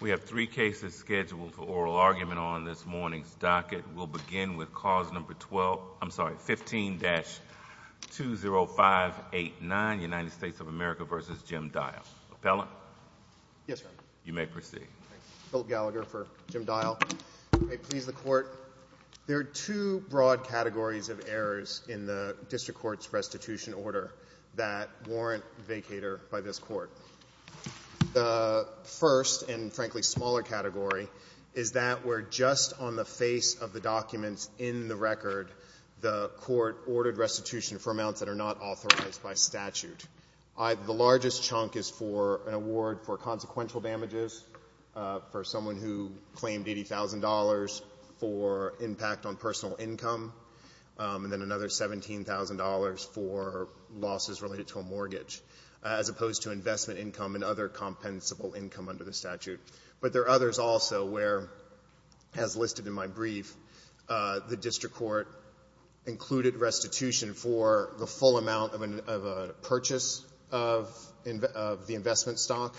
We have three cases scheduled for oral argument on this morning's docket. We'll begin with cause number 12, I'm sorry, 15-20589, United States of America v. Jim Dial. Appellant? Yes, Your Honor. You may proceed. Bill Gallagher for Jim Dial. May it please the Court, there are two broad categories of errors in the District Court's restitution order that warrant vacator by this Court. The first and, frankly, smaller category is that we're just on the face of the documents in the record the Court ordered restitution for amounts that are not authorized by statute. The largest chunk is for an award for consequential damages, for someone who claimed $80,000 for impact on personal income, and then another $17,000 for losses related to a mortgage, as opposed to investment income and other compensable income under the statute. But there are others also where, as listed in my brief, the District Court included restitution for the full amount of a purchase of the investment stock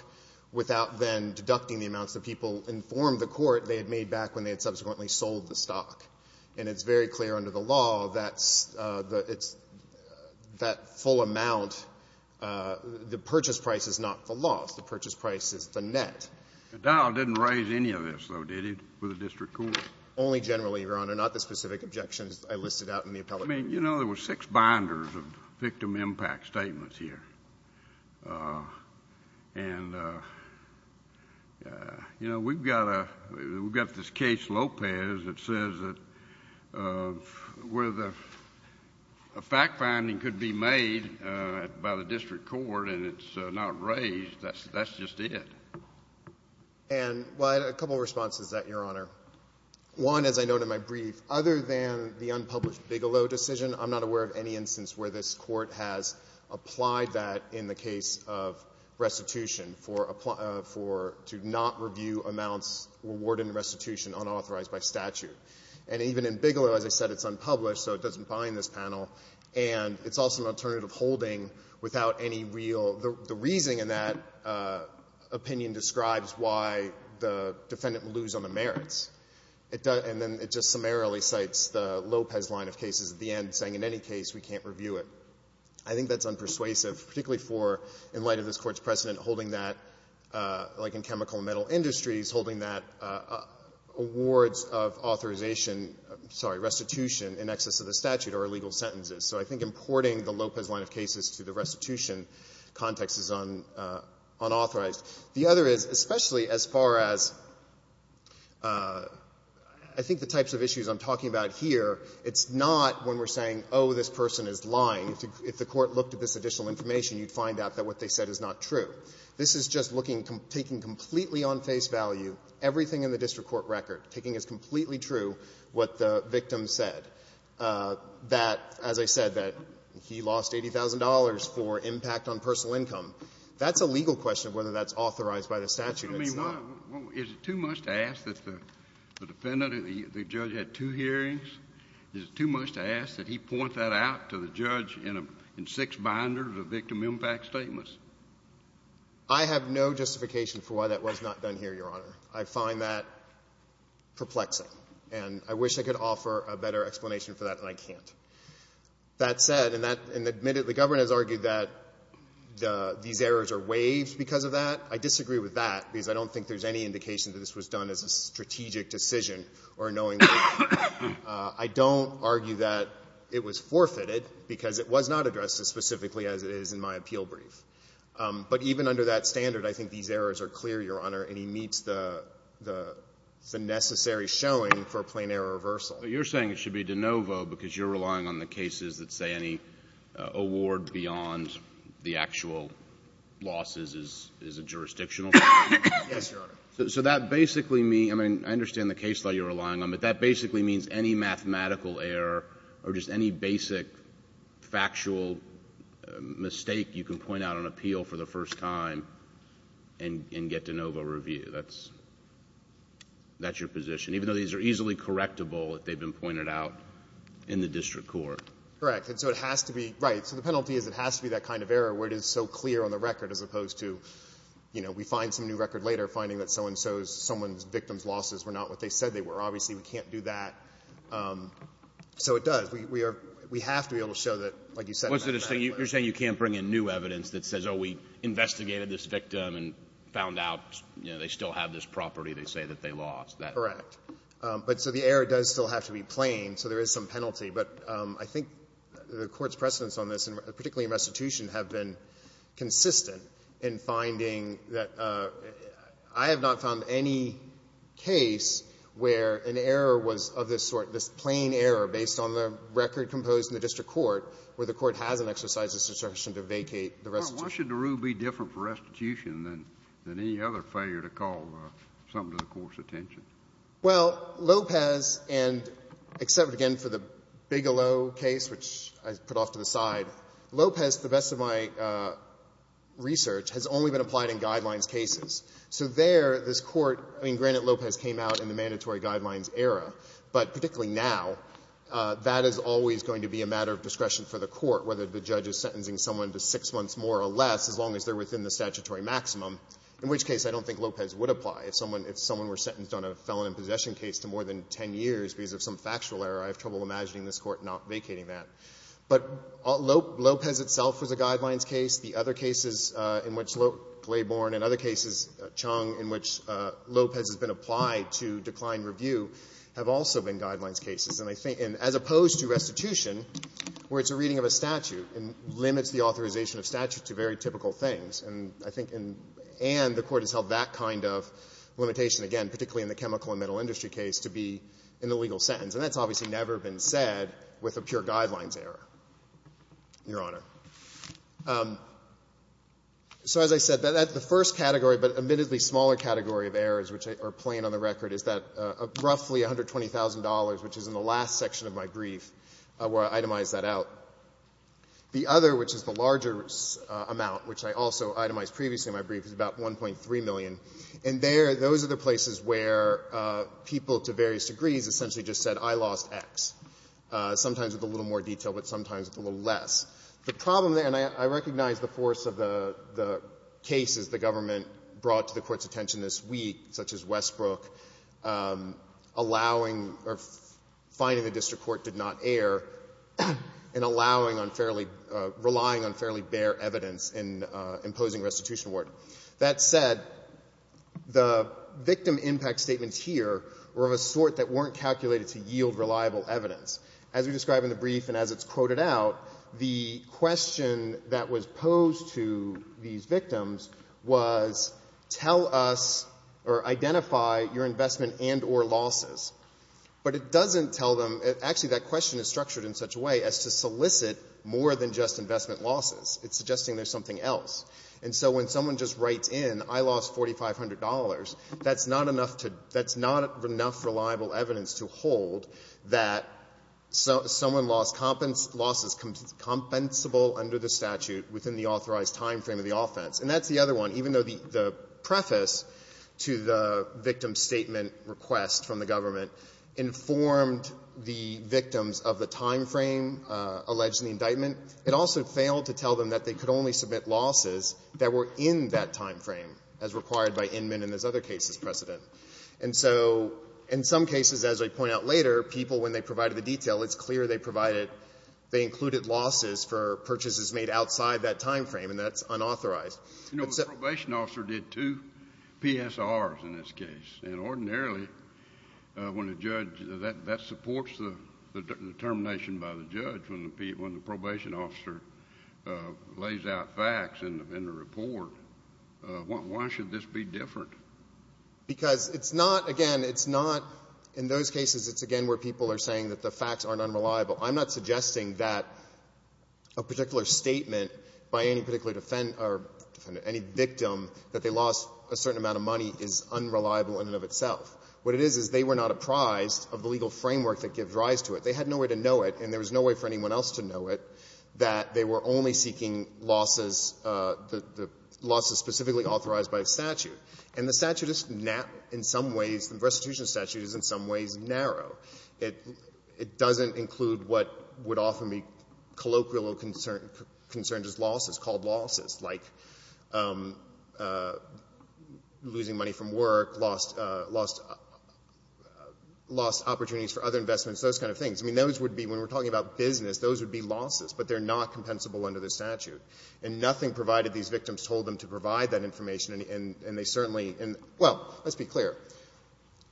without then deducting the amounts that people informed the Court they had made back when they had subsequently sold the stock. And it's very clear under the law that's the — it's that full amount, the purchase price is not the loss. The purchase price is the net. Dial didn't raise any of this, though, did he, for the District Court? Only generally, Your Honor, not the specific objections I listed out in the appellate brief. I mean, you know, there were six binders of victim impact statements here. And, you know, we've got a — we've got this case, Lopez, that says that where the fact-finding could be made by the District Court and it's not raised, that's just it. And, well, I had a couple of responses to that, Your Honor. One, as I note in my brief, other than the unpublished Bigelow decision, I'm not aware of any instance where this Court has applied that in the case of restitution for — to not review amounts rewarded in restitution unauthorized by statute. And even in Bigelow, as I said, it's unpublished, so it doesn't apply in this panel. And it's also an alternative holding without any real — the reasoning in that opinion describes why the defendant will lose on the merits. And then it just summarily cites the Lopez line of cases at the end saying, in any case, we can't review it. I think that's unpersuasive, particularly for, in light of this Court's precedent, holding that, like in chemical and metal industries, holding that awards of authorization — I'm sorry, restitution in excess of the statute are illegal sentences. So I think importing the Lopez line of cases to the restitution context is unauthorized. The other is, especially as far as I think the types of issues I'm talking about here, it's not when we're saying, oh, this person is lying. If the Court looked at this additional information, you'd find out that what they said is not true. This is just looking — taking completely on face value everything in the district court record, taking as completely true what the victim said, that, as I said, that he lost $80,000 for impact on personal income. That's a legal question of whether that's authorized by the statute. I mean, is it too much to ask that the defendant, the judge, had two hearings? Is it too much to ask that he point that out to the judge in six binders of victim impact statements? I have no justification for why that was not done here, Your Honor. I find that perplexing, and I wish I could offer a better explanation for that, and I can't. That said, and that — and admittedly, the Governor has argued that these errors are waived because of that. I disagree with that because I don't think there's any indication that this was done as a strategic decision or knowingly. I don't argue that it was forfeited because it was not addressed as specifically as it is in my appeal brief. But even under that standard, I think these errors are clear, Your Honor, and he meets the necessary showing for a plain-error reversal. But you're saying it should be de novo because you're relying on the cases that say that any award beyond the actual losses is a jurisdictional error? Yes, Your Honor. So that basically means — I mean, I understand the case law you're relying on, but that basically means any mathematical error or just any basic factual mistake you can point out on appeal for the first time and get de novo review. That's your position, even though these are easily correctable if they've been pointed out in the district court? Correct. And so it has to be — right. So the penalty is it has to be that kind of error where it is so clear on the record as opposed to, you know, we find some new record later finding that so-and-so's — someone's victim's losses were not what they said they were. Obviously, we can't do that. So it does. We are — we have to be able to show that, like you said — You're saying you can't bring in new evidence that says, oh, we investigated this victim and found out, you know, they still have this property. They say that they lost. Correct. But so the error does still have to be plain, so there is some penalty. But I think the Court's precedents on this, and particularly in restitution, have been consistent in finding that I have not found any case where an error was of this sort, this plain error based on the record composed in the district court where the court hasn't exercised its discretion to vacate the restitution. Well, why should the rule be different for restitution than any other failure to call something to the Court's attention? Well, Lopez and — except, again, for the Bigelow case, which I put off to the side, Lopez, to the best of my research, has only been applied in Guidelines cases. So there, this Court — I mean, granted, Lopez came out in the Mandatory Guidelines era, but particularly now, that is always going to be a matter of discretion for the Court, whether the judge is sentencing someone to six months more or less as long as they're within the statutory maximum, in which case I don't think Lopez would apply if someone — if someone were sentenced on a felon in possession case to more than ten years because of some factual error. I have trouble imagining this Court not vacating that. But Lopez itself was a Guidelines case. The other cases in which — Glayborne and other cases, Chung, in which Lopez has been applied to decline review have also been Guidelines cases. And I think — and as opposed to restitution, where it's a reading of a statute and limits the authorization of statute to very typical things. And I think — and the Court has held that kind of limitation, again, particularly in the chemical and metal industry case, to be in the legal sentence. And that's obviously never been said with a pure Guidelines error, Your Honor. So as I said, the first category, but admittedly smaller category of errors which are plain on the record, is that roughly $120,000, which is in the last section of my brief, where I itemized that out. The other, which is the larger amount, which I also itemized previously in my brief, is about $1.3 million. And there, those are the places where people, to various degrees, essentially just said, I lost X, sometimes with a little more detail, but sometimes with a little less. The problem there — and I recognize the force of the cases the government brought to the Court's attention this week, such as Westbrook, allowing — or finding the district court did not err, and allowing on fairly — relying on fairly bare evidence in imposing restitution award. That said, the victim impact statements here were of a sort that weren't calculated to yield reliable evidence. As we describe in the brief and as it's quoted out, the question that was posed to these victims was, tell us or identify your investment and or losses. But it doesn't tell them — actually, that question is structured in such a way as to solicit more than just investment losses. It's suggesting there's something else. And so when someone just writes in, I lost $4,500, that's not enough to — that's not enough reliable evidence to hold that someone lost losses compensable under the statute within the authorized timeframe of the offense. And that's the other one. Even though the preface to the victim statement request from the government informed the victims of the timeframe alleged in the indictment, it also failed to tell them that they could only submit losses that were in that timeframe, as required by Inman and his other cases precedent. And so in some cases, as I point out later, people, when they provided the detail, it's clear they provided — they provided the detail within that timeframe, and that's unauthorized. But so — You know, the probation officer did two PSRs in this case. And ordinarily, when a judge — that supports the determination by the judge when the — when the probation officer lays out facts in the report. Why should this be different? Because it's not — again, it's not — in those cases, it's, again, where people are saying that the facts aren't unreliable. I'm not suggesting that a particular statement by any particular defendant or any victim that they lost a certain amount of money is unreliable in and of itself. What it is, is they were not apprised of the legal framework that gives rise to it. They had nowhere to know it, and there was no way for anyone else to know it, that they were only seeking losses, the losses specifically authorized by the statute. And the statute is in some ways — the restitution statute is in some ways narrow. It — it doesn't include what would often be colloquial concerns as losses, called losses, like losing money from work, lost — lost opportunities for other investments, those kind of things. I mean, those would be — when we're talking about business, those would be losses, but they're not compensable under the statute. And nothing provided these victims told them to provide that information, and they certainly — and, well, let's be clear.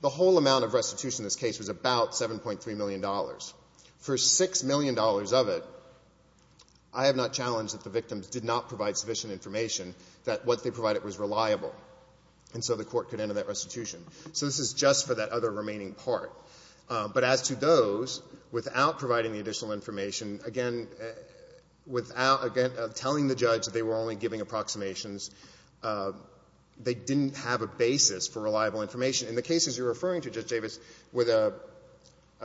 The whole amount of restitution in this case was about $7.3 million. For $6 million of it, I have not challenged that the victims did not provide sufficient information that what they provided was reliable, and so the court could enter that restitution. So this is just for that other remaining part. But as to those, without providing the additional information, again, without telling the judge that they were only giving approximations, they didn't have a basis for reliable information. In the cases you're referring to, Judge Davis, where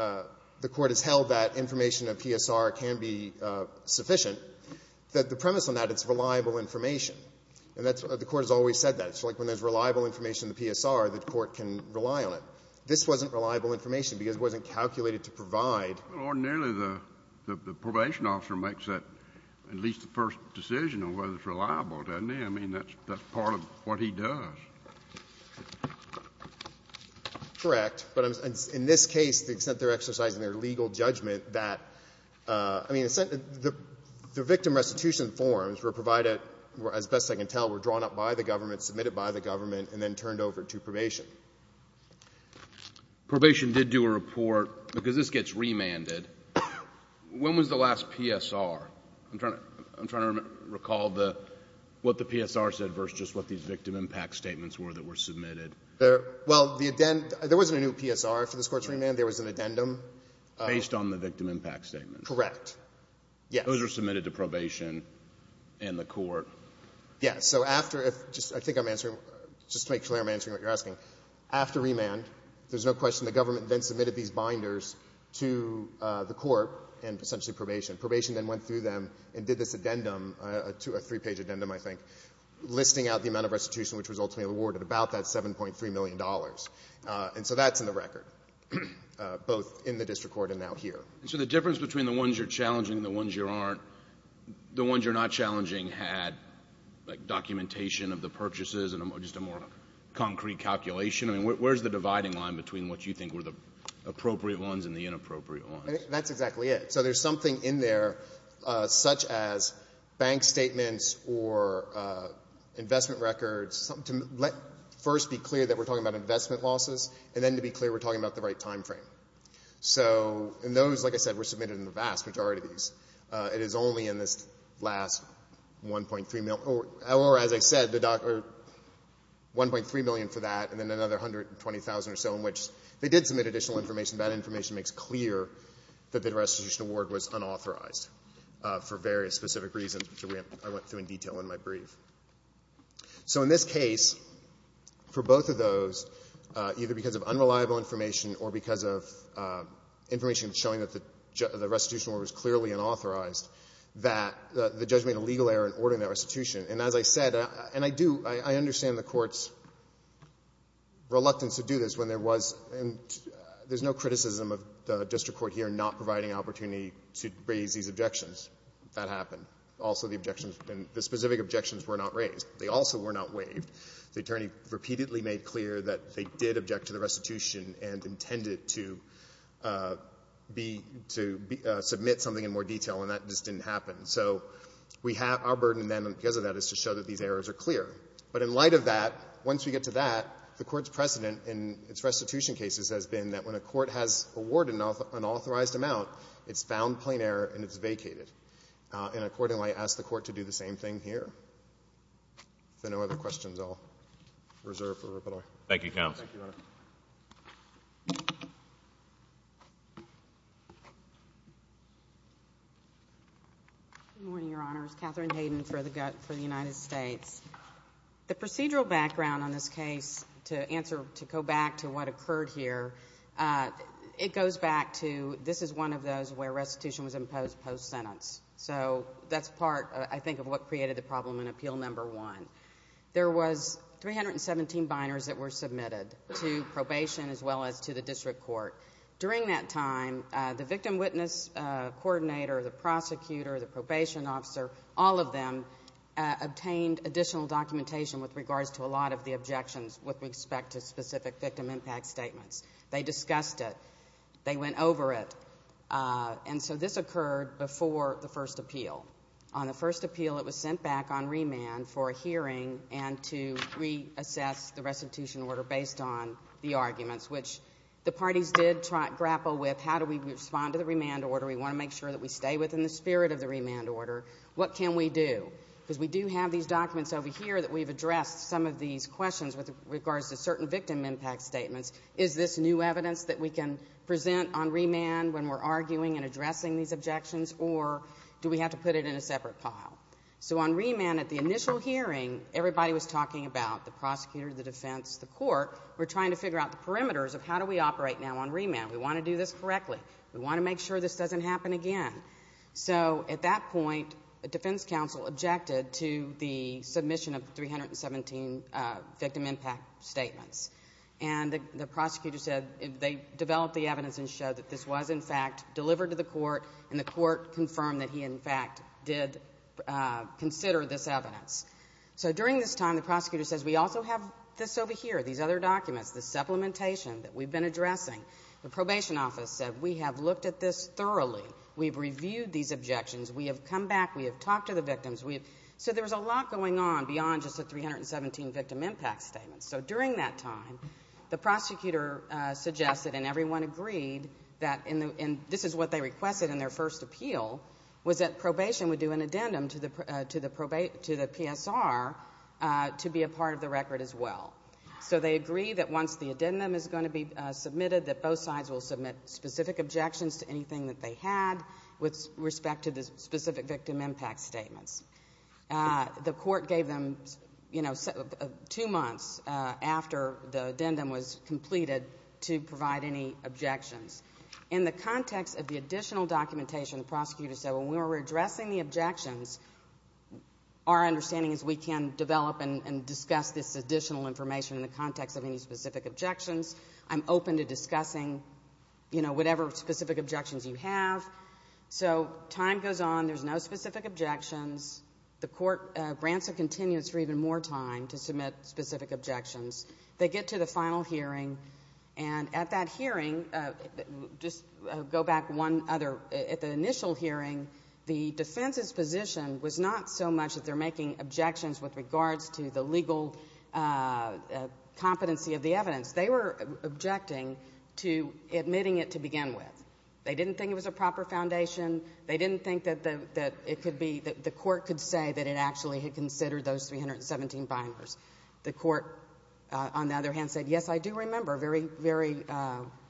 the Court has held that information of PSR can be sufficient, the premise on that, it's reliable information. And that's — the Court has always said that. It's like when there's reliable information in the PSR, the Court can rely on it. This wasn't reliable information because it wasn't calculated to provide. Well, ordinarily, the probation officer makes that, at least the first decision on whether it's reliable, doesn't he? I mean, that's part of what he does. Correct. But in this case, the extent they're exercising their legal judgment that — I mean, the victim restitution forms were provided, as best I can tell, were drawn up by the government, submitted by the government, and then turned over to probation. Probation did do a report, because this gets remanded. When was the last PSR? I'm trying to recall the — what the PSR said versus just what these victim impact statements were that were submitted. Well, the — there wasn't a new PSR for this Court's remand. There was an addendum. Based on the victim impact statement. Correct. Yes. Those were submitted to probation and the Court. Yes. So after — I think I'm answering — just to make clear, I'm answering what you're asking. After remand, there's no question the government then submitted these binders to the Court and essentially probation. Probation then went through them and did this addendum, a three-page addendum, I think, listing out the amount of restitution which was ultimately awarded, about that $7.3 million. And so that's in the record, both in the district court and now here. So the difference between the ones you're challenging and the ones you aren't, the ones you're not challenging had, like, documentation of the purchases and just a more concrete calculation. I mean, where's the dividing line between what you think were the appropriate ones and the inappropriate ones? That's exactly it. So there's something in there such as bank statements or investment records, to let first be clear that we're talking about investment losses, and then to be clear we're talking about the right timeframe. So — and those, like I said, were submitted in the vast majority of these. It is only in this last $1.3 million — or, as I said, $1.3 million for that and then another $120,000 or so in which they did submit additional information. And that information makes clear that the restitution award was unauthorized for various specific reasons, which I went through in detail in my brief. So in this case, for both of those, either because of unreliable information or because of information showing that the restitution award was clearly unauthorized, that the judge made a legal error in ordering that restitution. And as I said — and I do — I understand the Court's reluctance to do this when there was — and there's no criticism of the district court here not providing opportunity to raise these objections. That happened. Also, the objections — the specific objections were not raised. They also were not waived. The attorney repeatedly made clear that they did object to the restitution and intended to be — to submit something in more detail, and that just didn't happen. So we have — our burden then because of that is to show that these errors are clear. But in light of that, once we get to that, the Court's precedent in its restitution cases has been that when a court has awarded an unauthorized amount, it's found plain error and it's vacated. And accordingly, I ask the Court to do the same thing here. If there are no other questions, I'll reserve the rebuttal. Thank you, counsel. Thank you, Your Honor. Good morning, Your Honors. I'm Catherine Hayden for the United States. The procedural background on this case, to answer — to go back to what occurred here, it goes back to — this is one of those where restitution was imposed post-sentence. So that's part, I think, of what created the problem in Appeal No. 1. There was 317 binars that were submitted to probation as well as to the district court. During that time, the victim witness coordinator, the prosecutor, the probation officer, all of them obtained additional documentation with regards to a lot of the objections with respect to specific victim impact statements. They discussed it. They went over it. And so this occurred before the first appeal. On the first appeal, it was sent back on remand for a hearing and to re-assess the restitution order based on the arguments, which the parties did grapple with. How do we respond to the remand order? We want to make sure that we stay within the spirit of the remand order. What can we do? Because we do have these documents over here that we've addressed some of these questions with regards to certain victim impact statements. Is this new evidence that we can present on remand when we're arguing and addressing these objections? Or do we have to put it in a separate pile? So on remand, at the initial hearing, everybody was talking about the prosecutor, the defense, the court. We're trying to figure out the perimeters of how do we operate now on remand. We want to do this correctly. We want to make sure this doesn't happen again. So at that point, the defense counsel objected to the submission of 317 victim impact statements. And the prosecutor said they developed the evidence and showed that this was, in fact, delivered to the court, and the court confirmed that he, in fact, did consider this evidence. So during this time, the prosecutor says, we also have this over here, these other documents, this supplementation that we've been addressing. The probation office said, we have looked at this thoroughly. We've reviewed these objections. We have come back. We have talked to the victims. So there was a lot going on beyond just the 317 victim impact statements. So during that time, the prosecutor suggested, and everyone agreed, that this is what they requested in their first appeal, was that probation would do an addendum to the PSR to be a part of the record as well. So they agree that once the addendum is going to be submitted, that both sides will submit specific objections to anything that they had with respect to the specific victim impact statements. The court gave them, you know, two months after the addendum was completed to provide any objections. In the context of the additional documentation, the prosecutor said, when we were addressing the objections, our understanding is we can develop and discuss this additional information in the context of any specific objections. I'm open to discussing, you know, whatever specific objections you have. So time goes on. There's no specific objections. The court grants a continuance for even more time to submit specific objections. They get to the final hearing, and at that hearing, just go back one other. At the initial hearing, the defense's position was not so much that they're making objections with regards to the legal competency of the evidence. They were objecting to admitting it to begin with. They didn't think it was a proper foundation. They didn't think that the court could say that it actually had considered those 317 binders. The court, on the other hand, said, yes, I do remember very, very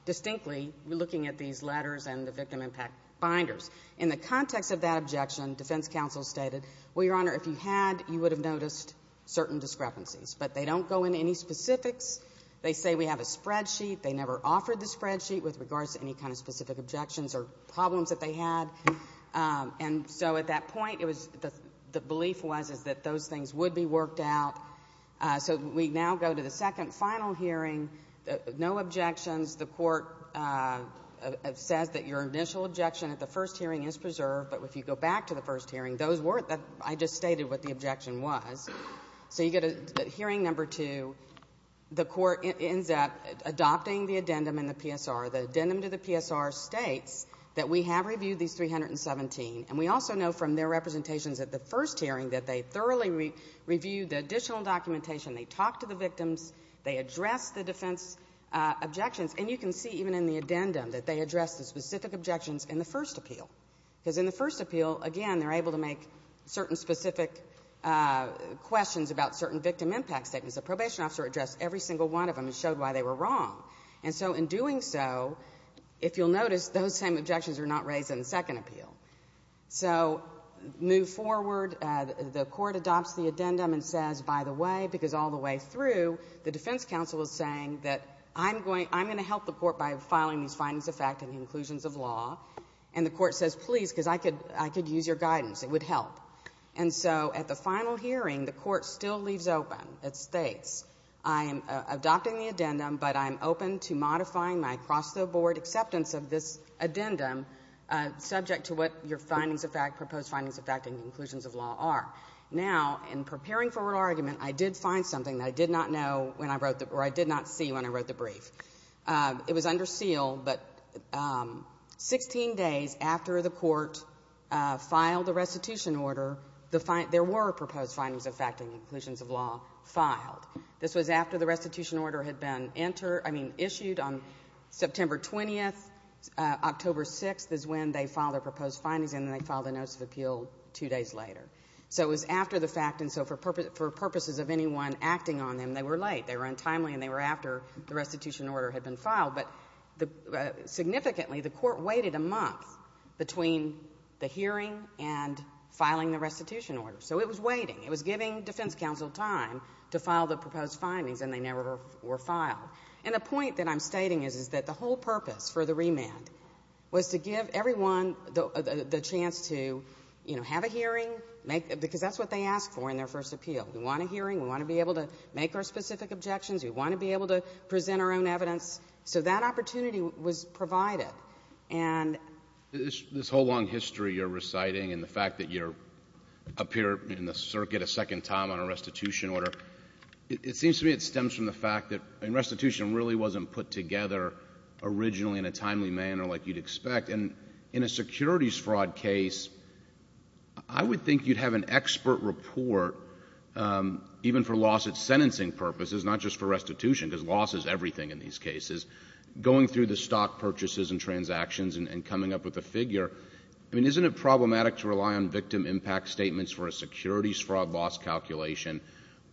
distinctly looking at these letters and the victim impact binders. In the context of that objection, defense counsel stated, well, Your Honor, if you had, you would have noticed certain discrepancies. But they don't go into any specifics. They say we have a spreadsheet. They never offered the spreadsheet with regards to any kind of specific objections or problems that they had. And so at that point, the belief was that those things would be worked out. So we now go to the second final hearing, no objections. The court says that your initial objection at the first hearing is preserved. But if you go back to the first hearing, I just stated what the objection was. So you go to hearing number two. The court ends up adopting the addendum in the PSR. The addendum to the PSR states that we have reviewed these 317. And we also know from their representations at the first hearing that they thoroughly reviewed the additional documentation. They talked to the victims. They addressed the defense objections. And you can see even in the addendum that they addressed the specific objections in the first appeal. Because in the first appeal, again, they're able to make certain specific questions about certain victim impact statements. The probation officer addressed every single one of them and showed why they were wrong. And so in doing so, if you'll notice, those same objections are not raised in the second appeal. So move forward. The court adopts the addendum and says, by the way, because all the way through, the defense counsel is saying that I'm going to help the court by filing these findings of fact and conclusions of law. And the court says, please, because I could use your guidance. It would help. And so at the final hearing, the court still leaves open. It states, I am adopting the addendum, but I'm open to modifying my cross-the-board acceptance of this addendum subject to what your findings of fact, proposed findings of fact and conclusions of law are. Now, in preparing for argument, I did find something that I did not know when I wrote the or I did not see when I wrote the brief. It was under seal, but 16 days after the court filed the restitution order, there were proposed findings of fact and conclusions of law filed. This was after the restitution order had been issued on September 20th. October 6th is when they filed their proposed findings, and then they filed the notes of appeal two days later. So it was after the fact, and so for purposes of anyone acting on them, they were late. They were untimely, and they were after the restitution order had been filed. But significantly, the court waited a month between the hearing and filing the restitution order. So it was waiting. It was giving defense counsel time to file the proposed findings, and they never were filed. And the point that I'm stating is that the whole purpose for the remand was to give everyone the chance to have a hearing, because that's what they asked for in their first appeal. We want a hearing. We want to be able to make our specific objections. We want to be able to present our own evidence. So that opportunity was provided. And this whole long history you're reciting and the fact that you're up here in the circuit a second time on a restitution order, it seems to me it stems from the fact that restitution really wasn't put together originally in a timely manner like you'd expect. And in a securities fraud case, I would think you'd have an expert report, even for lawsuit sentencing purposes, not just for restitution, because loss is everything in these cases, going through the stock purchases and transactions and coming up with a figure. I mean, isn't it problematic to rely on victim impact statements for a securities fraud loss calculation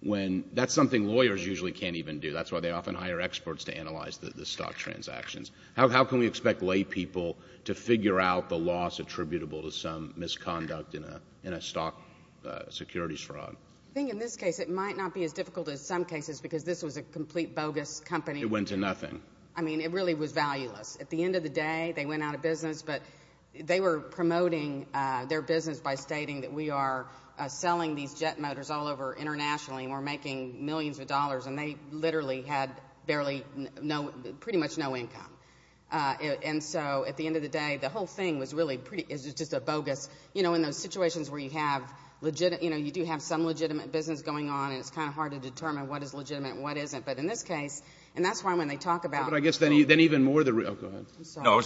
when that's something lawyers usually can't even do? That's why they often hire experts to analyze the stock transactions. How can we expect laypeople to figure out the loss attributable to some misconduct in a stock securities fraud? I think in this case it might not be as difficult as some cases because this was a complete bogus company. It went to nothing. I mean, it really was valueless. At the end of the day, they went out of business, but they were promoting their business by stating that we are selling these jet motors all over internationally and we're making millions of dollars, and they literally had pretty much no income. And so at the end of the day, the whole thing was really just a bogus. You know, in those situations where you do have some legitimate business going on and it's kind of hard to determine what is legitimate and what isn't. But in this case, and that's why when they talk about— But I guess then even more the—oh, go ahead. I'm sorry.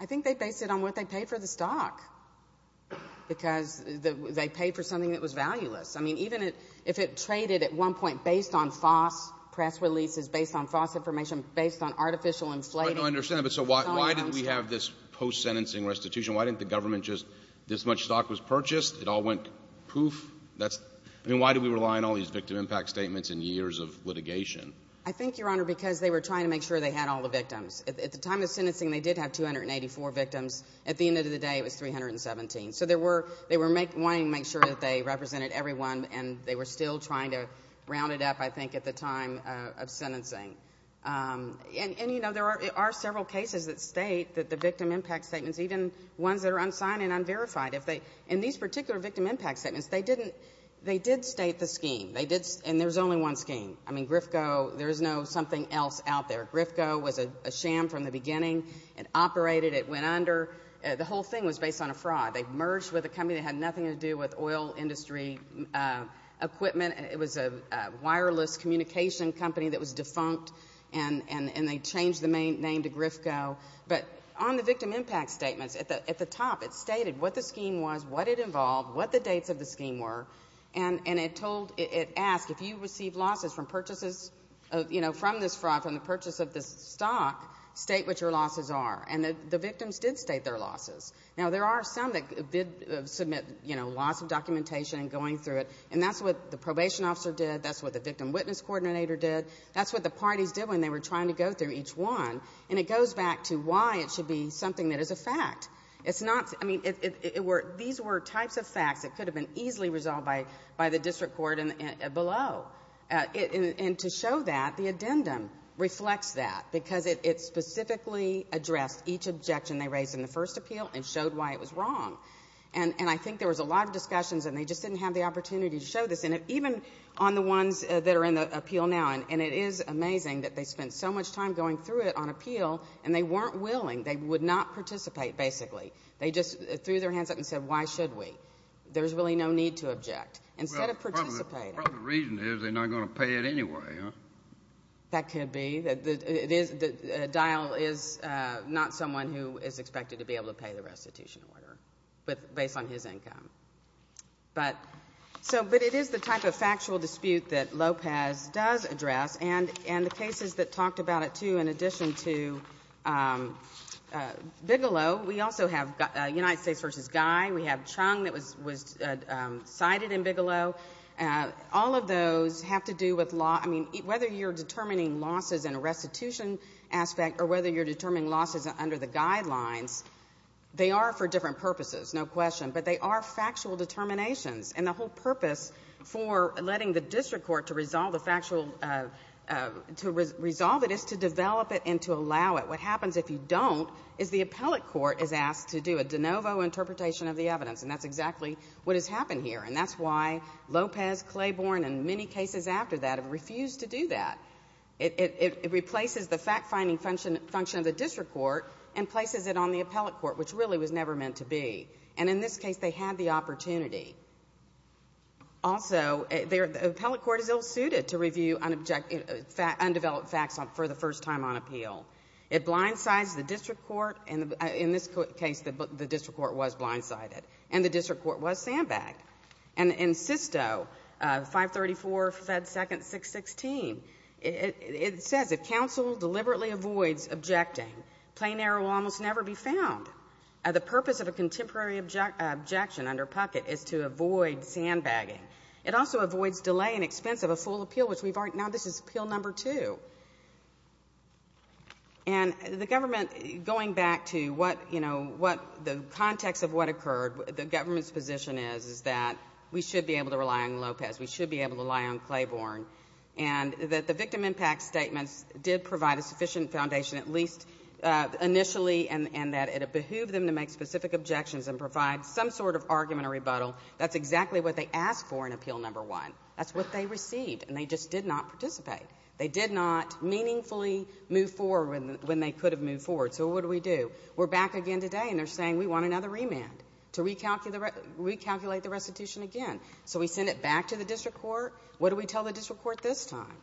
I think they based it on what they paid for the stock because they paid for something that was valueless. I mean, even if it traded at one point based on false press releases, based on false information, based on artificial inflating— I understand, but so why didn't we have this post-sentencing restitution? Why didn't the government just—this much stock was purchased. It all went poof. That's—I mean, why did we rely on all these victim impact statements and years of litigation? I think, Your Honor, because they were trying to make sure they had all the victims. At the time of sentencing, they did have 284 victims. At the end of the day, it was 317. So there were—they were wanting to make sure that they represented everyone, and they were still trying to round it up, I think, at the time of sentencing. And, you know, there are several cases that state that the victim impact statements, even ones that are unsigned and unverified, if they—in these particular victim impact statements, they didn't—they did state the scheme. They did—and there's only one scheme. I mean, Grifco, there is no something else out there. Grifco was a sham from the beginning. It operated. It went under. The whole thing was based on a fraud. They merged with a company that had nothing to do with oil industry equipment. It was a wireless communication company that was defunct, and they changed the name to Grifco. But on the victim impact statements, at the top, it stated what the scheme was, what it involved, what the dates of the scheme were, and it told—it asked, if you receive losses from purchases, you know, from this fraud, from the purchase of this stock, state what your losses are. And the victims did state their losses. Now, there are some that did submit, you know, lots of documentation and going through it, and that's what the probation officer did. That's what the victim witness coordinator did. That's what the parties did when they were trying to go through each one. And it goes back to why it should be something that is a fact. It's not—I mean, these were types of facts that could have been easily resolved by the district court below. And to show that, the addendum reflects that, because it specifically addressed each objection they raised in the first appeal and showed why it was wrong. And I think there was a lot of discussions, and they just didn't have the opportunity to show this. And even on the ones that are in the appeal now, and it is amazing that they spent so much time going through it on appeal, and they weren't willing. They would not participate, basically. They just threw their hands up and said, why should we? There's really no need to object. Instead of participating— Well, part of the reason is they're not going to pay it anyway, huh? That could be. The dial is not someone who is expected to be able to pay the restitution order based on his income. But it is the type of factual dispute that Lopez does address, and the cases that talked about it, too, in addition to Bigelow. We also have United States v. Guy. We have Chung that was cited in Bigelow. All of those have to do with law. I mean, whether you're determining losses in a restitution aspect or whether you're determining losses under the guidelines, they are for different purposes, no question. But they are factual determinations. And the whole purpose for letting the district court to resolve the factual—to resolve it is to develop it and to allow it. What happens if you don't is the appellate court is asked to do a de novo interpretation of the evidence, and that's exactly what has happened here. And that's why Lopez, Claiborne, and many cases after that have refused to do that. It replaces the fact-finding function of the district court and places it on the appellate court, which really was never meant to be. And in this case, they had the opportunity. Also, the appellate court is ill-suited to review undeveloped facts for the first time on appeal. It blindsides the district court. In this case, the district court was blindsided, and the district court was sandbagged. And in Sisto, 534, Fed 2nd, 616, it says, if counsel deliberately avoids objecting, plain error will almost never be found. The purpose of a contemporary objection under Puckett is to avoid sandbagging. It also avoids delay and expense of a full appeal, which we've already—now this is appeal number two. And the government, going back to what, you know, what the context of what occurred, the government's position is, is that we should be able to rely on Lopez, we should be able to rely on Claiborne, and that the victim impact statements did provide a sufficient foundation, at least initially, and that it behooved them to make specific objections and provide some sort of argument or rebuttal. That's exactly what they asked for in appeal number one. That's what they received, and they just did not participate. They did not meaningfully move forward when they could have moved forward. So what do we do? We're back again today, and they're saying we want another remand to recalculate the restitution again. So we send it back to the district court. What do we tell the district court this time?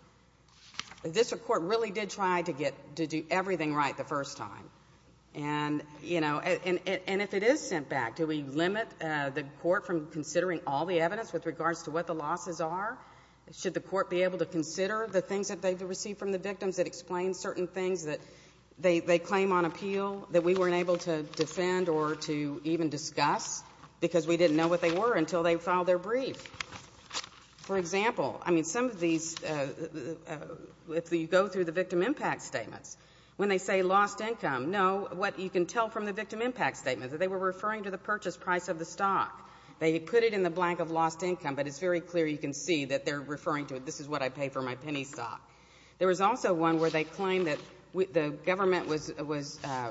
The district court really did try to get—to do everything right the first time. And, you know, and if it is sent back, do we limit the court from considering all the evidence with regards to what the losses are? Should the court be able to consider the things that they received from the victims that explain certain things that they claim on appeal that we weren't able to defend or to even discuss because we didn't know what they were until they filed their brief? For example, I mean, some of these—if you go through the victim impact statements, when they say lost income, no, what you can tell from the victim impact statement is that they were referring to the purchase price of the stock. They put it in the blank of lost income, but it's very clear you can see that they're referring to it. This is what I pay for my penny stock. There was also one where they claimed that the government was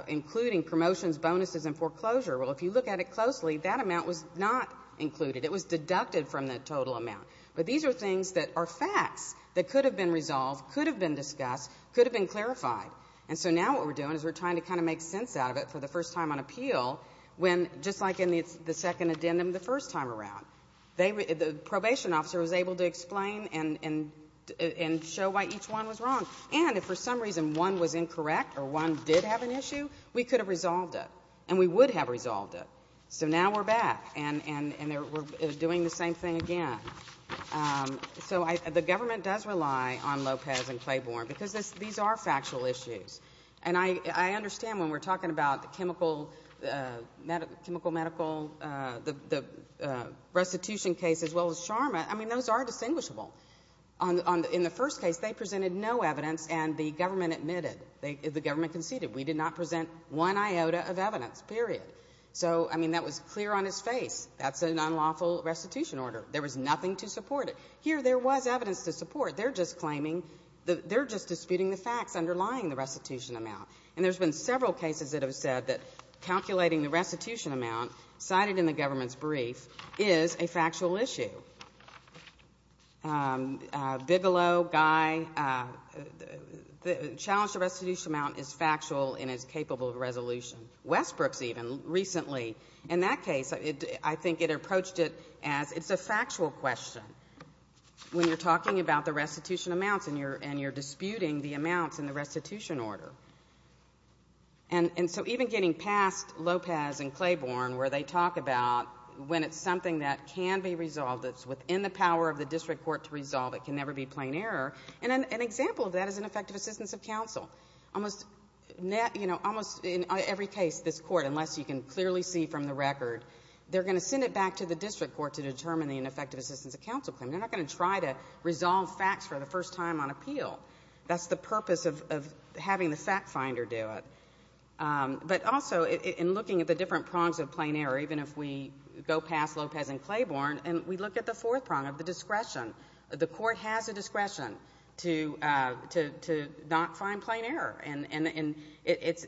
including promotions, bonuses, and foreclosure. Well, if you look at it closely, that amount was not included. It was deducted from the total amount. But these are things that are facts that could have been resolved, could have been discussed, could have been clarified. And so now what we're doing is we're trying to kind of make sense out of it for the first time on appeal when, just like in the second addendum the first time around, the probation officer was able to explain and show why each one was wrong. And if for some reason one was incorrect or one did have an issue, we could have resolved it, and we would have resolved it. So now we're back, and we're doing the same thing again. So the government does rely on Lopez and Claiborne because these are factual issues. And I understand when we're talking about the chemical medical, the restitution case as well as SHRMA. I mean, those are distinguishable. In the first case, they presented no evidence, and the government admitted. The government conceded. We did not present one iota of evidence, period. So, I mean, that was clear on his face. That's an unlawful restitution order. There was nothing to support it. Here there was evidence to support. They're just claiming that they're just disputing the facts underlying the restitution amount. And there's been several cases that have said that calculating the restitution amount cited in the government's brief is a factual issue. Bigelow, Guy, the challenge to restitution amount is factual and is capable of resolution. Westbrook's even recently, in that case, I think it approached it as it's a factual question when you're talking about the restitution amounts and you're disputing the amounts in the restitution order. And so even getting past Lopez and Claiborne where they talk about when it's something that can be resolved, it's within the power of the district court to resolve, it can never be plain error. And an example of that is ineffective assistance of counsel. Almost in every case, this court, unless you can clearly see from the record, they're going to send it back to the district court to determine the ineffective assistance of counsel claim. They're not going to try to resolve facts for the first time on appeal. That's the purpose of having the fact finder do it. But also in looking at the different prongs of plain error, even if we go past Lopez and Claiborne, and we look at the fourth prong of the discretion. The court has a discretion to not find plain error. And it's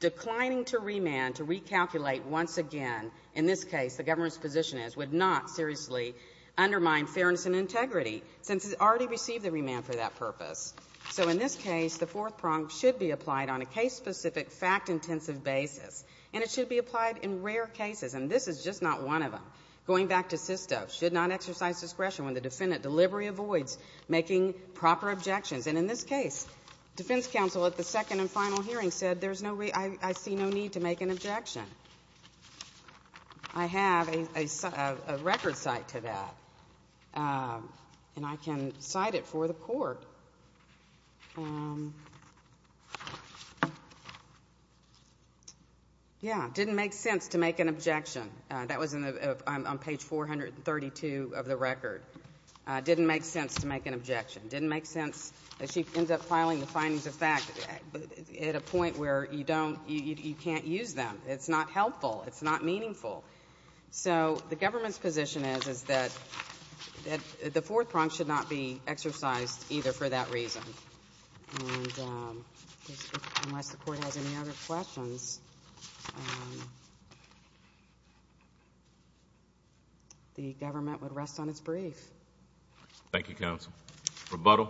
declining to remand, to recalculate once again. In this case, the government's position is would not seriously undermine fairness and integrity since it already received the remand for that purpose. So in this case, the fourth prong should be applied on a case-specific, fact-intensive basis. And it should be applied in rare cases, and this is just not one of them. Going back to SISTA, should not exercise discretion when the defendant delivery avoids making proper objections. And in this case, defense counsel at the second and final hearing said, I see no need to make an objection. I have a record cite to that, and I can cite it for the court. Yeah, didn't make sense to make an objection. That was on page 432 of the record. Didn't make sense to make an objection. Didn't make sense that she ends up filing the findings of fact at a point where you can't use them. It's not helpful. It's not meaningful. So the government's position is that the fourth prong should not be exercised either for that reason. And unless the Court has any other questions, the government would rest on its brief. Thank you, counsel. Rebuttal.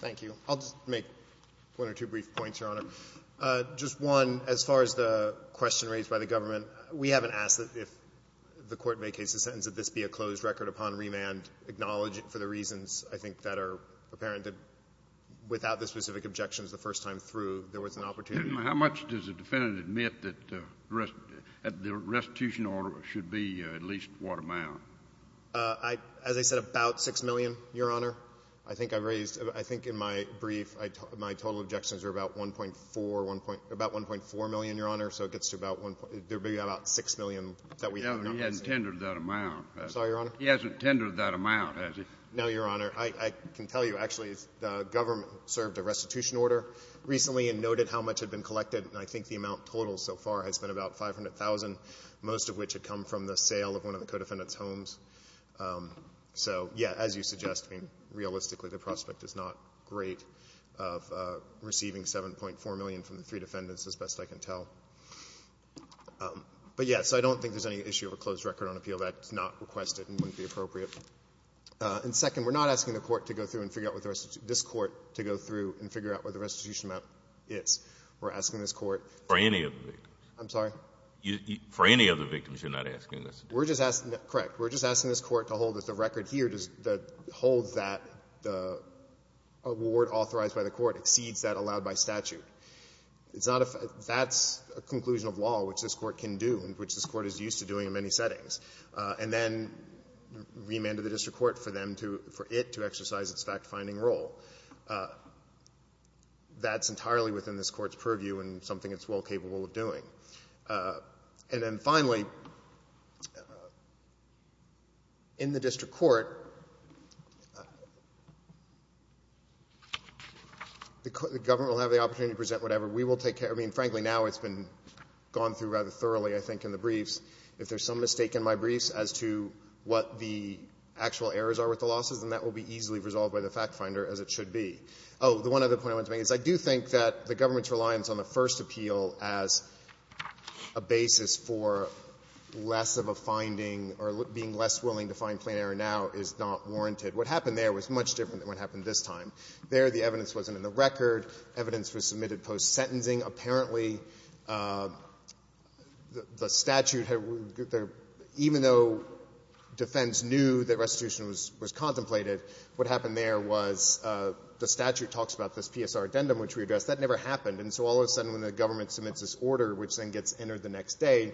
Thank you. I'll just make one or two brief points, Your Honor. Just one, as far as the question raised by the government, we haven't asked that if the court vacates the sentence, that this be a closed record upon remand. Acknowledge it for the reasons, I think, that are apparent that without the specific objections the first time through, there was an opportunity. How much does the defendant admit that the restitution order should be, at least, what amount? As I said, about 6 million, Your Honor. I think I raised — I think in my brief, my total objections are about 1.4 — about 1.4 million, Your Honor. So it gets to about 1.4 — there would be about 6 million that we have. No, he hasn't tendered that amount. Sorry, Your Honor? He hasn't tendered that amount, has he? No, Your Honor. I can tell you, actually, the government served a restitution order recently and noted how much had been collected. And I think the amount totaled so far has been about 500,000, most of which had come from the sale of one of the co-defendants' homes. So, yes, as you suggest, realistically, the prospect is not great of receiving 7.4 million from the three defendants, as best I can tell. But, yes, I don't think there's any issue of a closed record on appeal. That's not requested and wouldn't be appropriate. And second, we're not asking the Court to go through and figure out what the restitution — this Court to go through and figure out what the restitution amount is. We're asking this Court to — For any of the victims? I'm sorry? For any of the victims, you're not asking this to do? We're just asking — correct. We're just asking this Court to hold that the record here, to hold that the award authorized by the Court exceeds that allowed by statute. It's not a — that's a conclusion of law, which this Court can do and which this Court is used to doing in many settings, and then remand to the district court for them to — for it to exercise its fact-finding role. That's entirely within this Court's purview and something it's well capable of doing. And then finally, in the district court, the government will have the opportunity to present whatever we will take care of. I mean, frankly, now it's been gone through rather thoroughly, I think, in the briefs. If there's some mistake in my briefs as to what the actual errors are with the losses, then that will be easily resolved by the fact-finder, as it should be. Oh, the one other point I want to make is I do think that the government's position on the first appeal as a basis for less of a finding or being less willing to find plain error now is not warranted. What happened there was much different than what happened this time. There, the evidence wasn't in the record. Evidence was submitted post-sentencing. Apparently, the statute had — even though defense knew that restitution was contemplated, what happened there was the statute talks about this PSR addendum, which we addressed. And so all of a sudden when the government submits this order, which then gets entered the next day,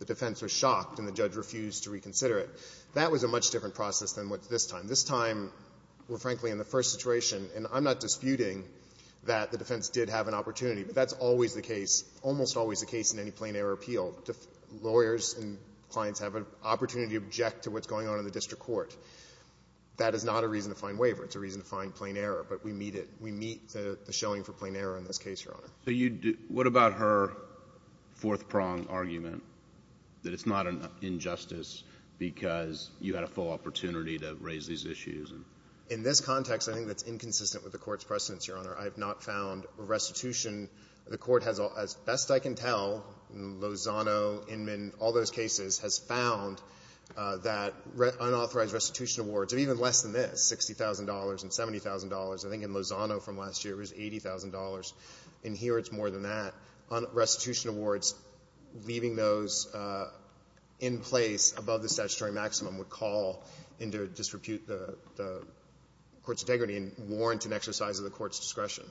the defense was shocked and the judge refused to reconsider it. That was a much different process than what's this time. This time, we're frankly in the first situation, and I'm not disputing that the defense did have an opportunity, but that's always the case, almost always the case in any plain error appeal. Lawyers and clients have an opportunity to object to what's going on in the district court. That is not a reason to find waiver. It's a reason to find plain error, but we meet it. We meet the showing for plain error in this case, Your Honor. So you do — what about her fourth-prong argument that it's not an injustice because you had a full opportunity to raise these issues? In this context, I think that's inconsistent with the Court's precedence, Your Honor. I have not found restitution. The Court has, as best I can tell, Lozano, Inman, all those cases, has found that unauthorized restitution awards are even less than this, $60,000 and $70,000. I think in Lozano from last year, it was $80,000. In here, it's more than that. Restitution awards, leaving those in place above the statutory maximum would call into disrepute the Court's integrity and warrant an exercise of the Court's discretion.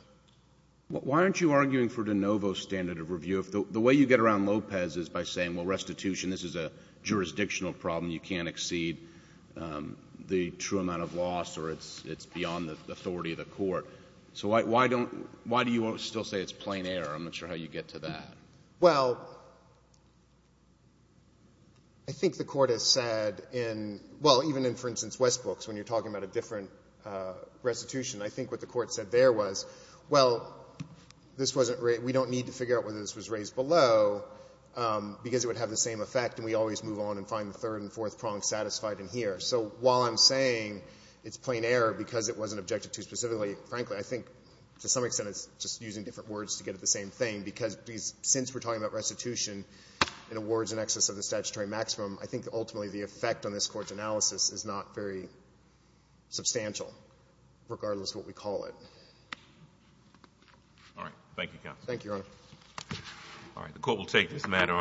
Why aren't you arguing for de novo standard of review? If the way you get around Lopez is by saying, well, restitution, this is a jurisdictional problem, you can't exceed the true amount of loss or it's beyond the authority of the Court, so why don't — why do you still say it's plain error? I'm not sure how you get to that. Well, I think the Court has said in — well, even in, for instance, Westbrooks, when you're talking about a different restitution, I think what the Court said there was, well, this wasn't — we don't need to figure out whether this was raised above or below because it would have the same effect and we always move on and find the third and fourth prongs satisfied in here. So while I'm saying it's plain error because it wasn't objected to specifically, frankly, I think to some extent it's just using different words to get at the same thing, because since we're talking about restitution and awards in excess of the statutory maximum, I think ultimately the effect on this Court's analysis is not very substantial, All right. Thank you, counsel. Thank you, Your Honor. All right. The Court will take this matter.